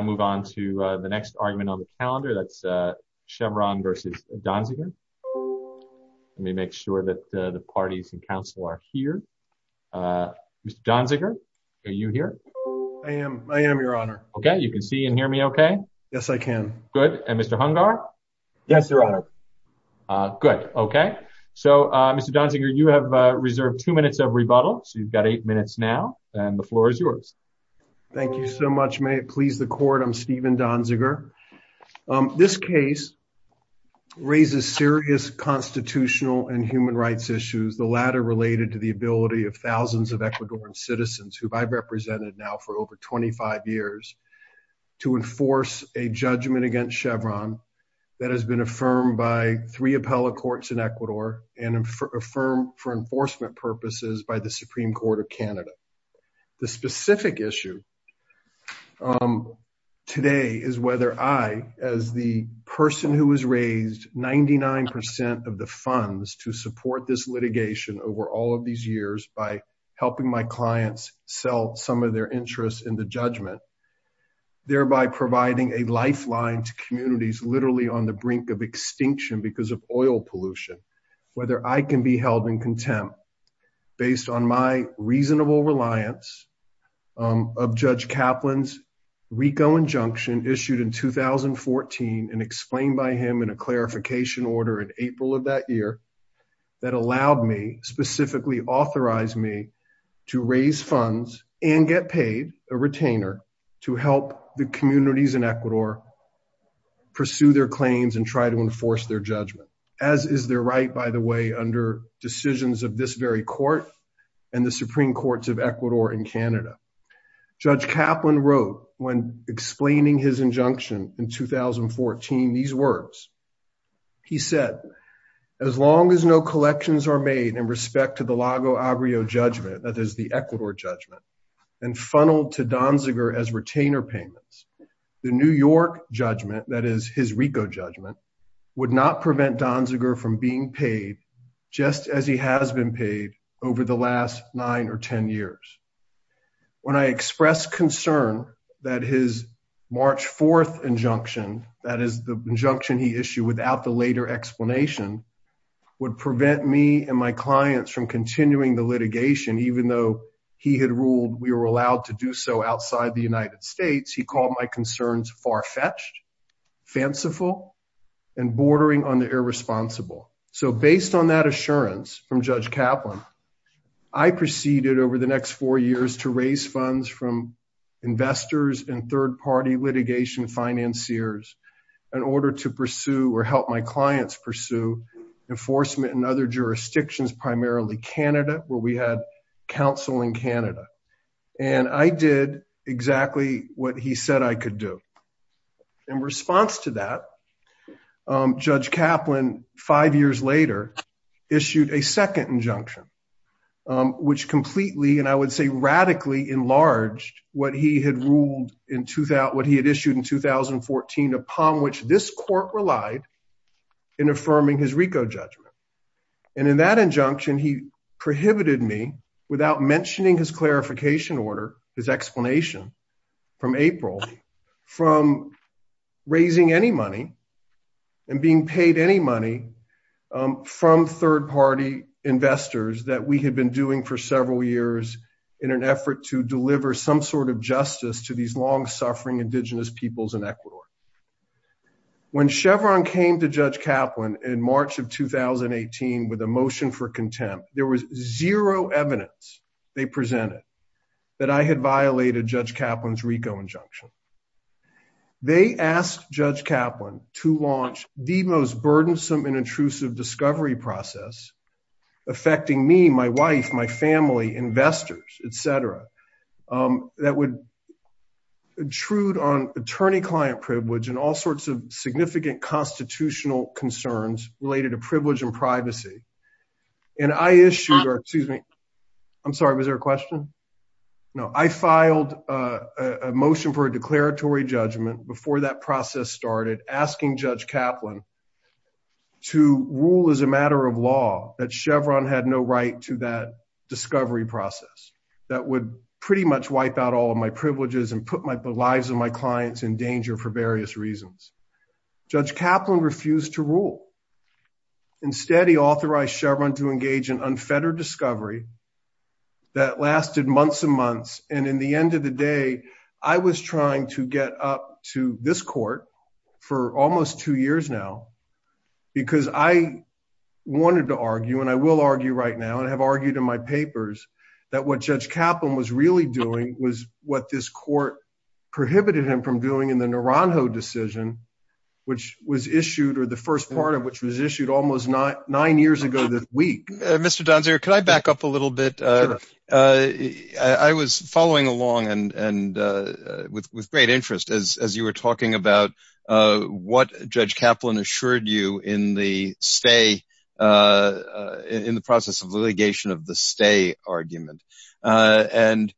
I move on to the next argument on the calendar that's Chevron v. Donziger. Let me make sure that the parties and counsel are here. Mr. Donziger, are you here? I am, I am, your honor. Okay, you can see and hear me okay? Yes, I can. Good, and Mr. Hungar? Yes, your honor. Good, okay. So, Mr. Donziger, you have reserved two minutes of rebuttal, so you've got eight minutes now, and the floor is yours. Thank you so much, may it please the court, I'm Stephen Donziger. This case raises serious constitutional and human rights issues, the latter related to the ability of thousands of Ecuadorian citizens, who I've represented now for over 25 years, to enforce a judgment against Chevron that has been affirmed by three appellate courts in Ecuador and affirmed for enforcement purposes by the Supreme Court of Canada. The specific issue today is whether I, as the person who has raised 99% of the funds to support this litigation over all of these years by helping my clients sell some of their interests in the judgment, thereby providing a lifeline to communities literally on the brink of extinction because of oil pollution, whether I can be held in contempt based on my reasonable reliance of Judge Kaplan's RICO injunction issued in 2014 and explained by him in a clarification order in April of that year that allowed me, specifically authorized me, to raise funds and get paid, a retainer, to help the communities in Ecuador pursue their claims and try to enforce their judgment. As is their right, by the way, under decisions of this very court and the Supreme Courts of Ecuador and Canada. Judge Kaplan wrote, when explaining his injunction in 2014, these words. He said, as long as no collections are made in respect to the Lago Agrio judgment, that is the Ecuador judgment, and funneled to Donziger as retainer payments, the New York judgment, that is his RICO judgment, would not prevent Donziger from being paid just as he has been paid over the last nine or ten years. When I expressed concern that his March 4th injunction, that is the injunction he issued without the later explanation, would prevent me and my clients from continuing the litigation, even though he had ruled we were allowed to do so outside the United States, he called my concerns far-fetched, fanciful, and bordering on the irresponsible. So, based on that assurance from Judge Kaplan, I proceeded over the next four years to raise funds from investors and third-party litigation financiers in order to pursue or help my clients pursue enforcement in other jurisdictions, primarily Canada, where we had counsel in Canada. And I did exactly what he said I could do. In response to that, Judge Kaplan, five years later, issued a second injunction, which completely, and I would say radically, enlarged what he had ruled in – what he had issued in 2014 upon which this court relied in affirming his RICO judgment. And in that injunction, he prohibited me, without mentioning his clarification order, his explanation from April, from raising any money and being paid any money from third-party investors that we had been doing for several years in an effort to deliver some sort of justice to these long-suffering indigenous peoples in Ecuador. When Chevron came to Judge Kaplan in March of 2018 with a motion for contempt, there was zero evidence they presented that I had violated Judge Kaplan's RICO injunction. They asked Judge Kaplan to launch the most burdensome and intrusive discovery process affecting me, my wife, my family, investors, etc., that would intrude on attorney-client privilege and all sorts of significant constitutional concerns related to privilege and privacy. And I issued – excuse me, I'm sorry, was there a question? No. I filed a motion for a declaratory judgment before that process started, asking Judge Kaplan to rule as a matter of law that Chevron had no right to that discovery process that would pretty much wipe out all of my privileges and put the lives of my clients in danger for various reasons. Judge Kaplan refused to rule. Instead, he authorized Chevron to engage in unfettered discovery that lasted months and months, and in the end of the day, I was trying to get up to this court for almost two years now because I wanted to argue, and I will argue right now and have argued in my papers, that what Judge Kaplan was really doing was what this court prohibited him from doing in the Naranjo decision. Which was issued – or the first part of which was issued almost nine years ago this week. Can I back up a little bit? Sure. I was following along and – with great interest as you were talking about what Judge Kaplan assured you in the stay – in the process of litigation of the stay argument. And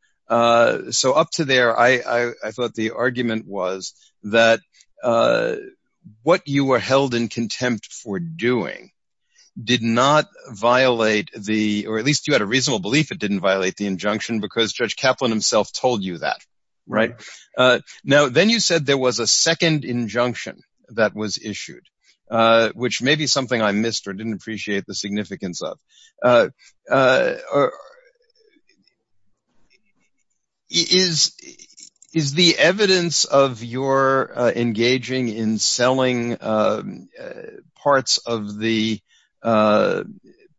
so up to there, I thought the argument was that what you were held in contempt for doing did not violate the – or at least you had a reasonable belief it didn't violate the injunction because Judge Kaplan himself told you that, right? Now, then you said there was a second injunction that was issued, which may be something I missed or didn't appreciate the significance of. Is the evidence of your engaging in selling parts of the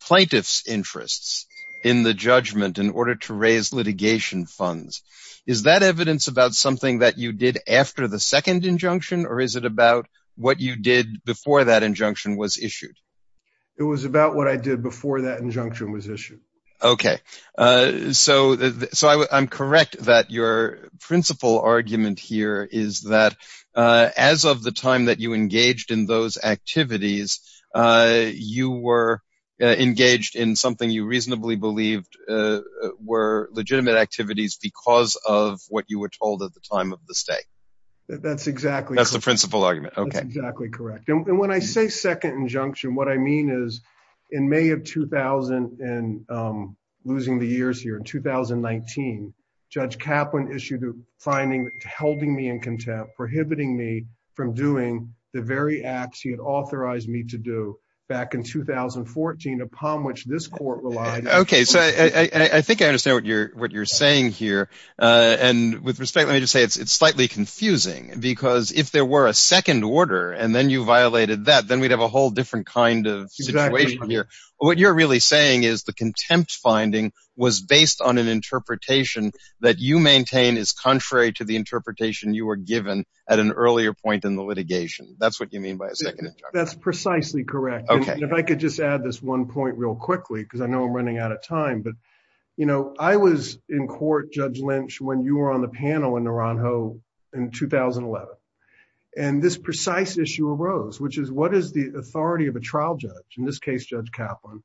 plaintiff's interests in the judgment in order to raise litigation funds – is that evidence about something that you did after the second injunction, or is it about what you did before that injunction was issued? It was about what I did before that injunction was issued. Okay. So I'm correct that your principal argument here is that as of the time that you engaged in those activities, you were engaged in something you reasonably believed were legitimate activities because of what you were told at the time of the stay. That's exactly – That's the principal argument. Okay. That's exactly correct. And when I say second injunction, what I mean is in May of 2000 – and losing the years here – in 2019, Judge Kaplan issued a finding that held me in contempt, prohibiting me from doing the very acts he had authorized me to do back in 2014 upon which this court relied. Okay. So I think I understand what you're saying here. And with respect, let me just say it's slightly confusing because if there were a second order and then you violated that, then we'd have a whole different kind of situation here. Exactly. What you're really saying is the contempt finding was based on an interpretation that you maintain is contrary to the interpretation you were given at an earlier point in the litigation. That's what you mean by a second injunction. That's precisely correct. Okay. And if I could just add this one point real quickly because I know I'm running out of time, but I was in court, Judge Lynch, when you were on the panel in Naranjo in 2011. And this precise issue arose, which is what is the authority of a trial judge, in this case, Judge Kaplan,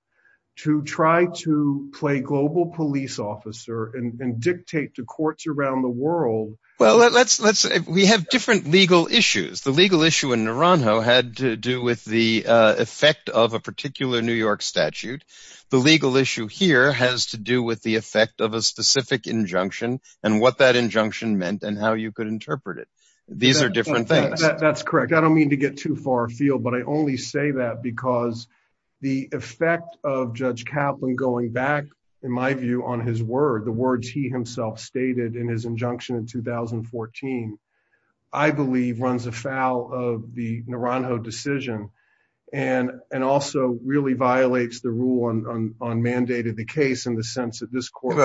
to try to play global police officer and dictate to courts around the world – We have different legal issues. The legal issue in Naranjo had to do with the effect of a particular New York statute. The legal issue here has to do with the effect of a specific injunction and what that injunction meant and how you could interpret it. These are different things. That's correct. I don't mean to get too far afield, but I only say that because the effect of Judge Kaplan going back, in my view, on his word, the words he himself stated in his injunction in 2014, I believe runs afoul of the Naranjo decision and also really violates the rule on mandated the case in the sense that this court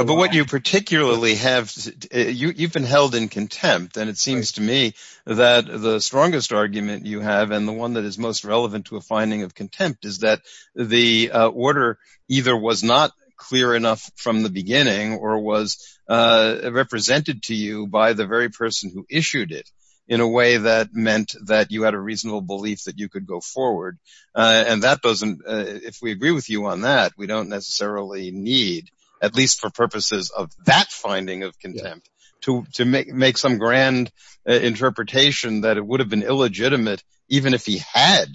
– You've been held in contempt, and it seems to me that the strongest argument you have and the one that is most relevant to a finding of contempt is that the order either was not clear enough from the beginning or was represented to you by the very person who issued it in a way that meant that you had a reasonable belief that you could go forward. If we agree with you on that, we don't necessarily need, at least for purposes of that finding of contempt, to make some grand interpretation that it would have been illegitimate even if he had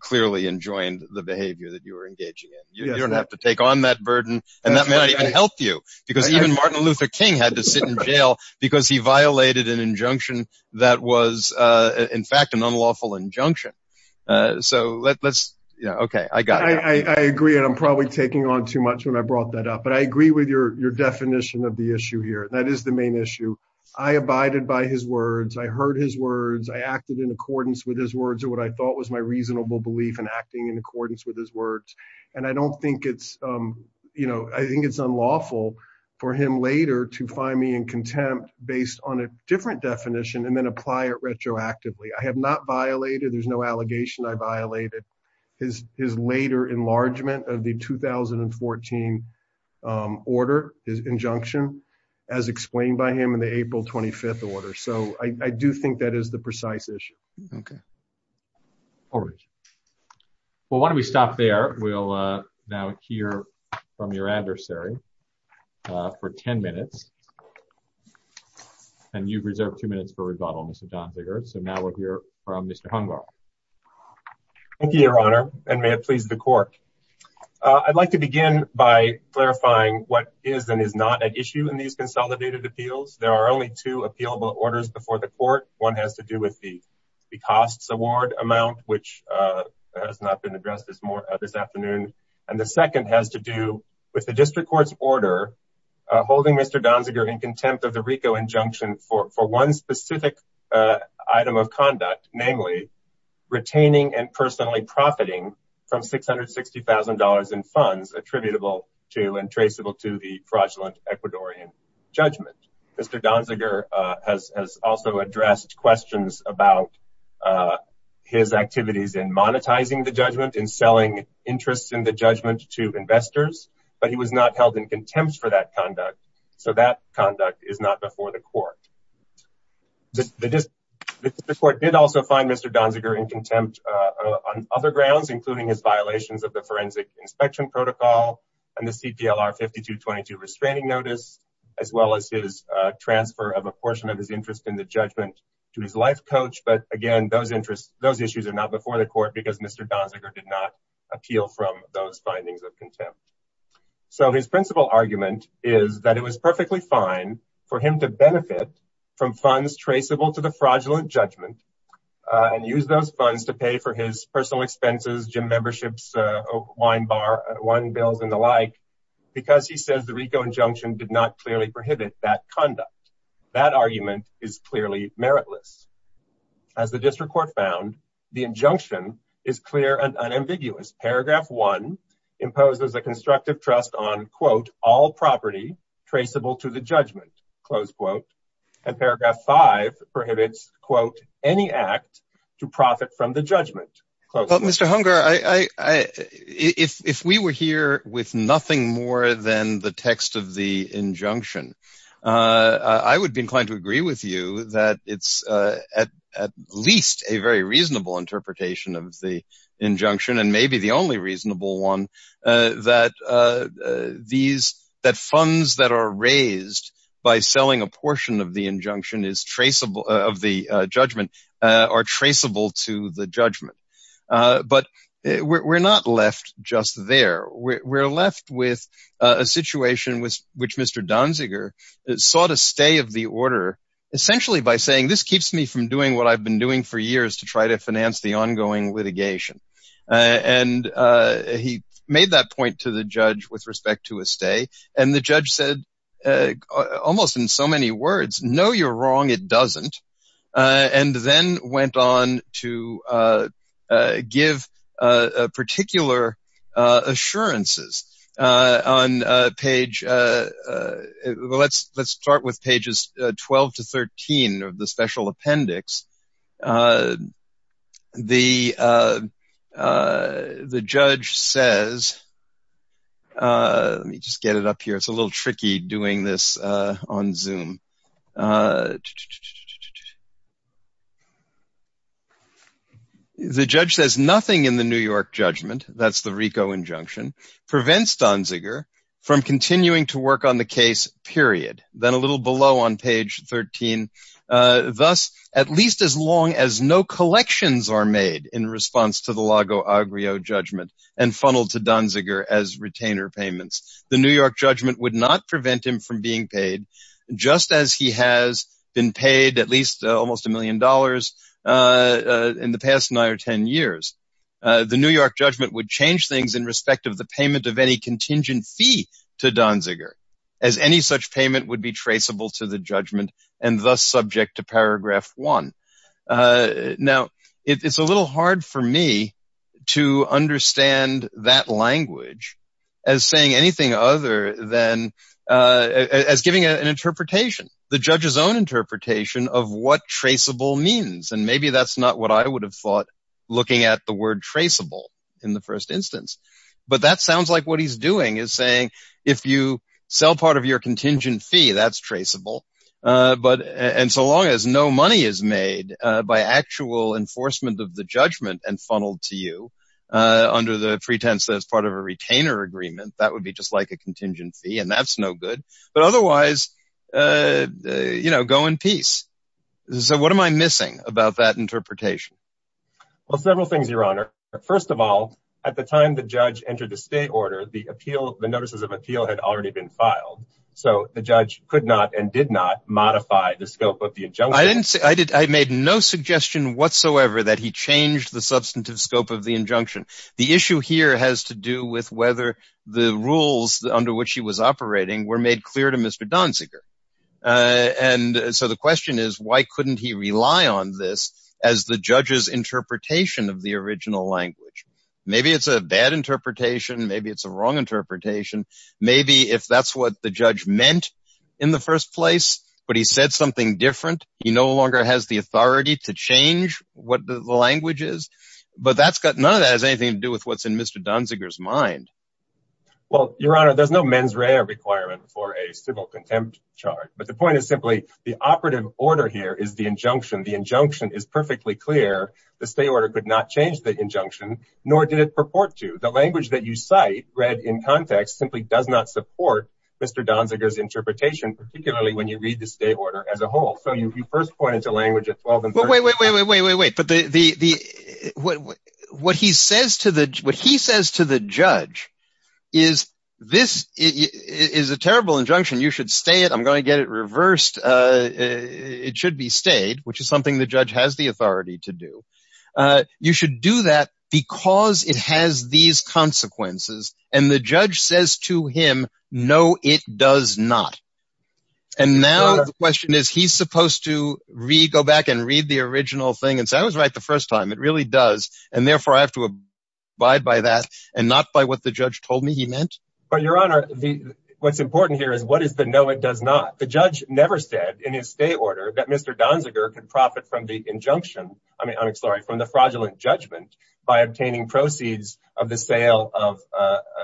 clearly enjoined the behavior that you were engaging in. You don't have to take on that burden, and that may not even help you because even Martin Luther King had to sit in jail because he violated an injunction that was in fact an unlawful injunction. So let's – okay, I got it. I agree, and I'm probably taking on too much when I brought that up. But I agree with your definition of the issue here. That is the main issue. I abided by his words. I heard his words. I acted in accordance with his words or what I thought was my reasonable belief in acting in accordance with his words. And I don't think it's – I think it's unlawful for him later to find me in contempt based on a different definition and then apply it retroactively. I have not violated – there's no allegation I violated his later enlargement of the 2014 order, his injunction, as explained by him in the April 25th order. So I do think that is the precise issue. Okay. All right. Well, why don't we stop there? We'll now hear from your adversary for 10 minutes. And you've reserved two minutes for rebuttal, Mr. Donhiggert. So now we'll hear from Mr. Hungar. Thank you, Your Honor, and may it please the court. I'd like to begin by clarifying what is and is not at issue in these consolidated appeals. There are only two appealable orders before the court. One has to do with the costs award amount, which has not been addressed this afternoon. And the second has to do with the district court's order holding Mr. Donhiggert in contempt of the RICO injunction for one specific item of conduct, namely retaining and personally profiting from $660,000 in funds attributable to and traceable to the fraudulent Ecuadorian judgment. Mr. Donhiggert has also addressed questions about his activities in monetizing the judgment and selling interests in the judgment to investors. But he was not held in contempt for that conduct. So that conduct is not before the court. The court did also find Mr. Donhiggert in contempt on other grounds, including his violations of the forensic inspection protocol and the CPLR 5222 restraining notice, as well as his transfer of a portion of his interest in the judgment to his life coach. But again, those interests, those issues are not before the court because Mr. Donhiggert did not appeal from those findings of contempt. So his principal argument is that it was perfectly fine for him to benefit from funds traceable to the fraudulent judgment and use those funds to pay for his personal expenses, gym memberships, wine bar, wine bills, and the like, because he says the RICO injunction did not clearly prohibit that conduct. That argument is clearly meritless. As the district court found, the injunction is clear and unambiguous. Paragraph one imposes a constructive trust on, quote, all property traceable to the judgment, close quote. And paragraph five prohibits, quote, any act to profit from the judgment. Well, Mr. Hunger, if we were here with nothing more than the text of the injunction, I would be inclined to agree with you that it's at least a very reasonable interpretation of the injunction. And maybe the only reasonable one that these that funds that are raised by selling a portion of the injunction is traceable of the judgment are traceable to the judgment. But we're not left just there. We're left with a situation with which Mr. Donziger sought a stay of the order, essentially by saying this keeps me from doing what I've been doing for years to try to finance the ongoing litigation. And he made that point to the judge with respect to a stay. And the judge said almost in so many words, no, you're wrong. It doesn't. And then went on to give particular assurances on page. Let's let's start with pages 12 to 13 of the special appendix. The the judge says. Let me just get it up here. It's a little tricky doing this on Zoom. The judge says nothing in the New York judgment. That's the RICO injunction prevents Donziger from continuing to work on the case, period. Then a little below on page 13. Thus, at least as long as no collections are made in response to the Lago Agrio judgment and funneled to Donziger as retainer payments. The New York judgment would not prevent him from being paid just as he has been paid at least almost a million dollars in the past nine or 10 years. The New York judgment would change things in respect of the payment of any contingent fee to Donziger as any such payment would be traceable to the judgment and thus subject to paragraph one. Now, it's a little hard for me to understand that language as saying anything other than as giving an interpretation, the judge's own interpretation of what traceable means. And maybe that's not what I would have thought looking at the word traceable in the first instance. But that sounds like what he's doing is saying, if you sell part of your contingent fee, that's traceable. But and so long as no money is made by actual enforcement of the judgment and funneled to you under the pretense that as part of a retainer agreement, that would be just like a contingent fee. And that's no good. But otherwise, you know, go in peace. So what am I missing about that interpretation? Well, several things, Your Honor. First of all, at the time the judge entered the state order, the appeal, the notices of appeal had already been filed. So the judge could not and did not modify the scope of the injunction. I didn't say I did. I made no suggestion whatsoever that he changed the substantive scope of the injunction. The issue here has to do with whether the rules under which he was operating were made clear to Mr. Donziger. And so the question is, why couldn't he rely on this as the judge's interpretation of the original language? Maybe it's a bad interpretation. Maybe it's a wrong interpretation. Maybe if that's what the judge meant in the first place, but he said something different, he no longer has the authority to change what the language is. But that's got none of that has anything to do with what's in Mr. Donziger's mind. Well, Your Honor, there's no mens rea requirement for a civil contempt charge. But the point is simply the operative order here is the injunction. The injunction is perfectly clear. The state order could not change the injunction, nor did it purport to. The language that you cite read in context simply does not support Mr. Donziger's interpretation, particularly when you read the state order as a whole. Wait, wait, wait, wait, wait, wait. But what he says to the what he says to the judge is this is a terrible injunction. You should stay it. I'm going to get it reversed. It should be stayed, which is something the judge has the authority to do. You should do that because it has these consequences. And the judge says to him, no, it does not. And now the question is, he's supposed to read, go back and read the original thing. And so I was right the first time it really does. And therefore, I have to abide by that and not by what the judge told me he meant. But, Your Honor, what's important here is what is the no, it does not. The judge never said in his state order that Mr. Donziger could profit from the injunction. I mean, I'm sorry, from the fraudulent judgment by obtaining proceeds of the sale of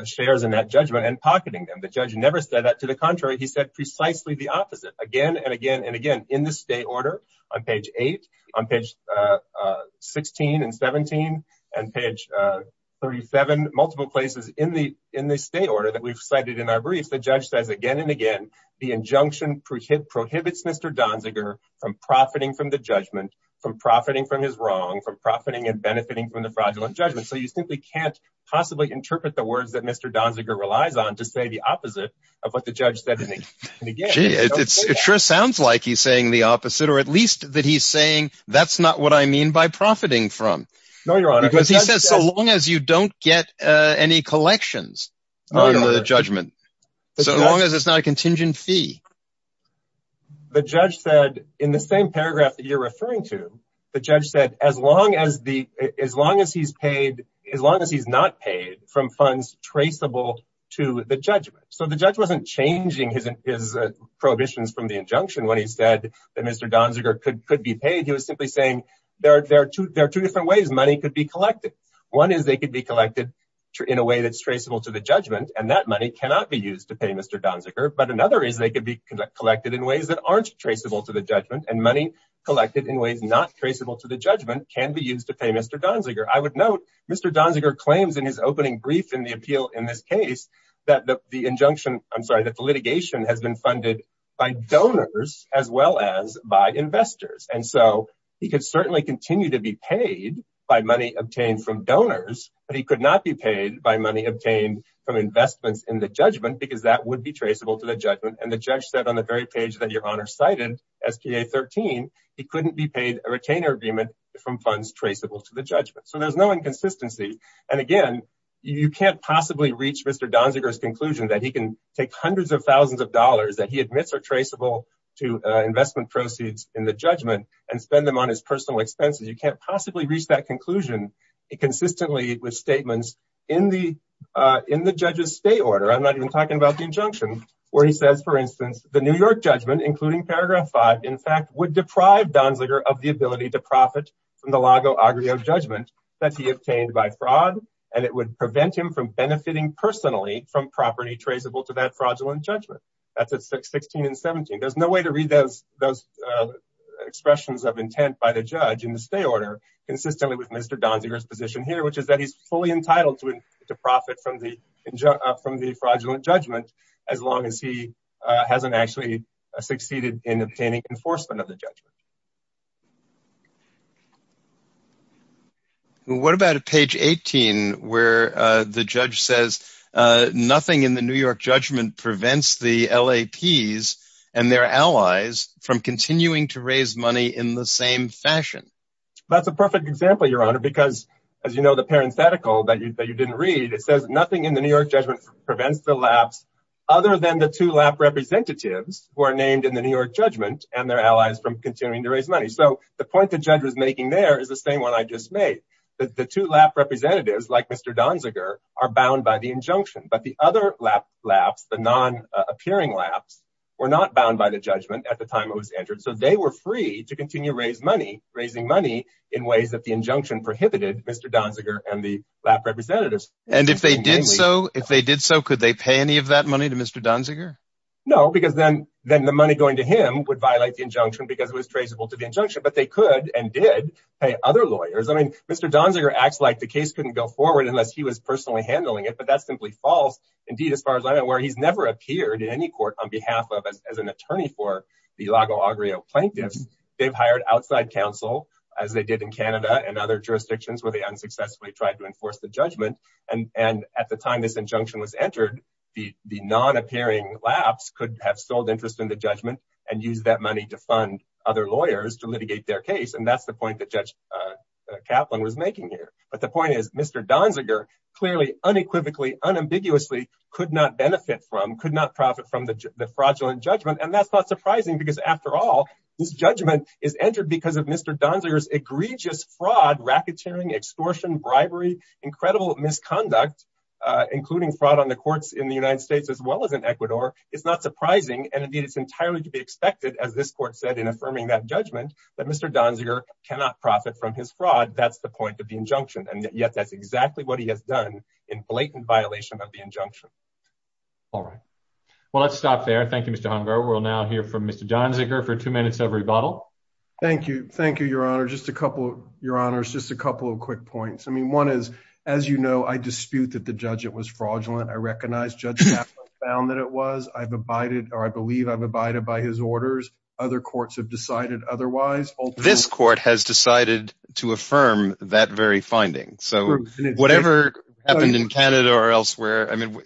shares in that judgment and pocketing them. The judge never said that. To the contrary, he said precisely the opposite again and again and again in the state order. On page eight, on page 16 and 17 and page 37, multiple places in the in the state order that we've cited in our briefs. The judge says again and again, the injunction prohibits Mr. Donziger from profiting from the judgment, from profiting from his wrong, from profiting and benefiting from the fraudulent judgment. So you simply can't possibly interpret the words that Mr. Donziger relies on to say the opposite of what the judge said. It sure sounds like he's saying the opposite, or at least that he's saying that's not what I mean by profiting from. No, Your Honor. Because he says so long as you don't get any collections on the judgment, so long as it's not a contingent fee. The judge said in the same paragraph that you're referring to, the judge said as long as he's not paid from funds traceable to the judgment. So the judge wasn't changing his prohibitions from the injunction when he said that Mr. Donziger could be paid. He was simply saying there are two different ways money could be collected. One is they could be collected in a way that's traceable to the judgment and that money cannot be used to pay Mr. Donziger. But another is they could be collected in ways that aren't traceable to the judgment and money collected in ways not traceable to the judgment can be used to pay Mr. Donziger. I would note Mr. Donziger claims in his opening brief in the appeal in this case that the injunction, I'm sorry, that the litigation has been funded by donors as well as by investors. And so he could certainly continue to be paid by money obtained from donors, but he could not be paid by money obtained from investments in the judgment because that would be traceable to the judgment. And the judge said on the very page that your honor cited, S.P.A. 13, he couldn't be paid a retainer agreement from funds traceable to the judgment. So there's no inconsistency. And again, you can't possibly reach Mr. Donziger's conclusion that he can take hundreds of thousands of dollars that he admits are traceable to investment proceeds in the judgment and spend them on his personal expenses. You can't possibly reach that conclusion consistently with statements in the judge's state order. I'm not even talking about the injunction where he says, for instance, the New York judgment, including paragraph five, in fact, would deprive Donziger of the ability to profit from the Lago Agrio judgment that he obtained by fraud. And it would prevent him from benefiting personally from property traceable to that fraudulent judgment. That's at 16 and 17. There's no way to read those expressions of intent by the judge in the state order consistently with Mr. Donziger's position here, which is that he's fully entitled to profit from the fraudulent judgment as long as he hasn't actually succeeded in obtaining enforcement of the judgment. What about a page 18 where the judge says nothing in the New York judgment prevents the LAPs and their allies from continuing to raise money in the same fashion? That's a perfect example, Your Honor, because as you know, the parenthetical that you didn't read, it says nothing in the New York judgment prevents the LAPs other than the two LAP representatives who are named in the New York judgment and their allies from continuing to raise money. So the point the judge was making there is the same one I just made, that the two LAP representatives, like Mr. Donziger, are bound by the injunction. But the other LAPs, the non-appearing LAPs, were not bound by the judgment at the time it was entered. So they were free to continue raising money in ways that the injunction prohibited Mr. Donziger and the LAP representatives. And if they did so, could they pay any of that money to Mr. Donziger? No, because then the money going to him would violate the injunction because it was traceable to the injunction. But they could and did pay other lawyers. I mean, Mr. Donziger acts like the case couldn't go forward unless he was personally handling it. But that's simply false. Indeed, as far as I'm aware, he's never appeared in any court on behalf of as an attorney for the Lago Agrio plaintiffs. They've hired outside counsel, as they did in Canada and other jurisdictions where they unsuccessfully tried to enforce the judgment. And at the time this injunction was entered, the non-appearing LAPs could have sold interest in the judgment and use that money to fund other lawyers to litigate their case. And that's the point that Judge Kaplan was making here. But the point is, Mr. Donziger clearly unequivocally, unambiguously could not benefit from, could not profit from the fraudulent judgment. And that's not surprising because, after all, this judgment is entered because of Mr. Donziger's egregious fraud, racketeering, extortion, bribery. Incredible misconduct, including fraud on the courts in the United States as well as in Ecuador, is not surprising. And indeed, it's entirely to be expected, as this court said in affirming that judgment, that Mr. Donziger cannot profit from his fraud. That's the point of the injunction. And yet that's exactly what he has done in blatant violation of the injunction. All right. Well, let's stop there. Thank you, Mr. Hunger. We'll now hear from Mr. Donziger for two minutes of rebuttal. Thank you. Thank you, Your Honor. Just a couple of, Your Honors, just a couple of quick points. I mean, one is, as you know, I dispute that the judgment was fraudulent. I recognize Judge Kaplan found that it was. I've abided or I believe I've abided by his orders. Other courts have decided otherwise. This court has decided to affirm that very finding. So whatever happened in Canada or elsewhere, I mean,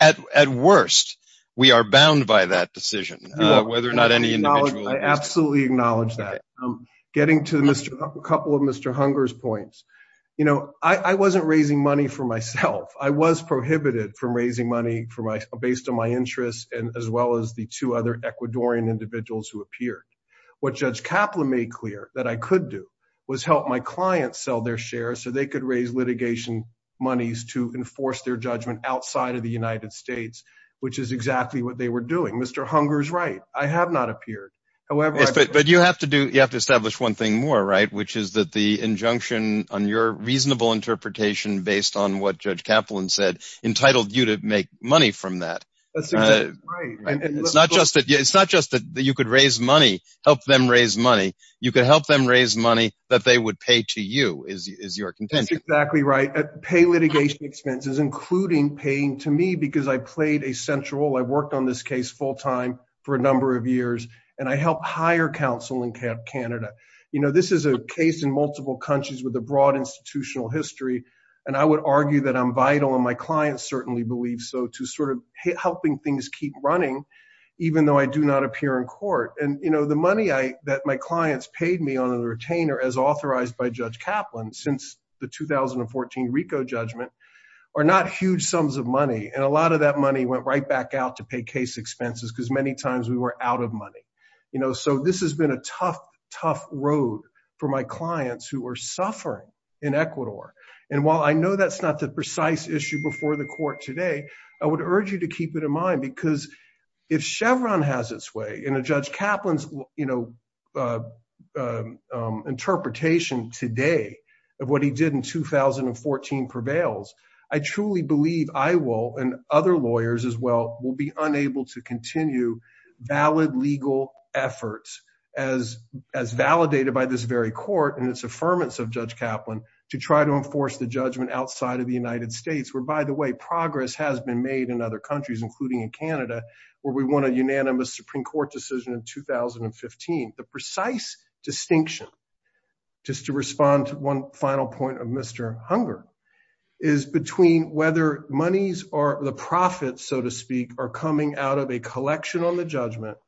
at worst, we are bound by that decision. Whether or not any individual. I absolutely acknowledge that. I'm getting to a couple of Mr. Hunger's points. You know, I wasn't raising money for myself. I was prohibited from raising money for my based on my interests and as well as the two other Ecuadorian individuals who appeared. What Judge Kaplan made clear that I could do was help my clients sell their shares so they could raise litigation monies to enforce their judgment outside of the United States, which is exactly what they were doing. Mr. Hunger's right. I have not appeared, however. But you have to do you have to establish one thing more. Right. Which is that the injunction on your reasonable interpretation, based on what Judge Kaplan said, entitled you to make money from that. It's not just that it's not just that you could raise money, help them raise money. You can help them raise money that they would pay to you is your contention. Exactly right. Pay litigation expenses, including paying to me because I played a central. I've worked on this case full time for a number of years and I help hire counsel in Canada. You know, this is a case in multiple countries with a broad institutional history. And I would argue that I'm vital and my clients certainly believe so to sort of helping things keep running, even though I do not appear in court. And, you know, the money I that my clients paid me on a retainer as authorized by Judge Kaplan since the 2014 RICO judgment are not huge sums of money. And a lot of that money went right back out to pay case expenses because many times we were out of money. You know, so this has been a tough, tough road for my clients who are suffering in Ecuador. And while I know that's not the precise issue before the court today, I would urge you to keep it in mind, because if Chevron has its way in a judge Kaplan's, you know, interpretation today of what he did in 2014 prevails. I truly believe I will and other lawyers as well will be unable to continue valid legal efforts as as validated by this very court and its affirmance of Judge Kaplan to try to enforce the judgment outside of the United States, where, by the way, progress has been made in other countries, including in Canada, where we want a unanimous Supreme Court decision in 2015. The precise distinction, just to respond to one final point of Mr. Hunger, is between whether monies or the profits, so to speak, are coming out of a collection on the judgment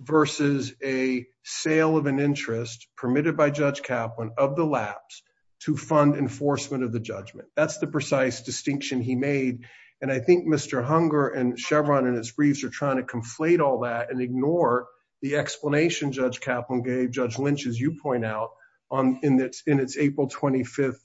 versus a sale of an interest permitted by Judge Kaplan of the lapse to fund enforcement of the judgment. That's the precise distinction he made. And I think Mr. Hunger and Chevron and his briefs are trying to conflate all that and ignore the explanation Judge Kaplan gave Judge Lynch, as you point out, in its April 25th,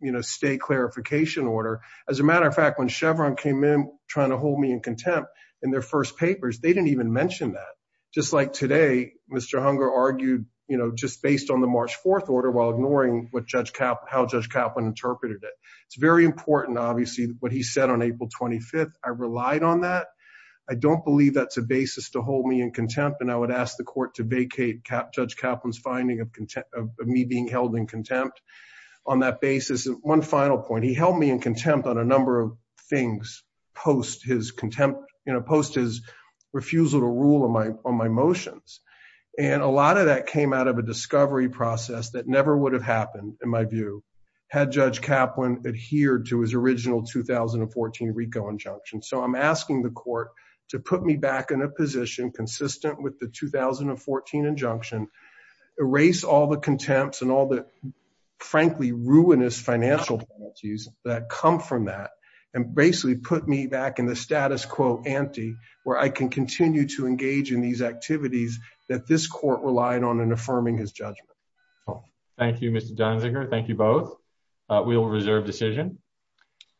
you know, stay clarification order. As a matter of fact, when Chevron came in trying to hold me in contempt in their first papers, they didn't even mention that. Just like today, Mr. Hunger argued, you know, just based on the March 4th order while ignoring what Judge Kaplan, how Judge Kaplan interpreted it. It's very important, obviously, what he said on April 25th. I relied on that. I don't believe that's a basis to hold me in contempt. And I would ask the court to vacate Judge Kaplan's finding of me being held in contempt on that basis. One final point. He held me in contempt on a number of things post his contempt, you know, post his refusal to rule on my motions. And a lot of that came out of a discovery process that never would have happened, in my view, had Judge Kaplan adhered to his original 2014 RICO injunction. So I'm asking the court to put me back in a position consistent with the 2014 injunction, erase all the contempts and all the, frankly, ruinous financial penalties that come from that. And basically put me back in the status quo ante, where I can continue to engage in these activities that this court relied on in affirming his judgment. Thank you, Mr. Dunziger. Thank you both. We will reserve decision.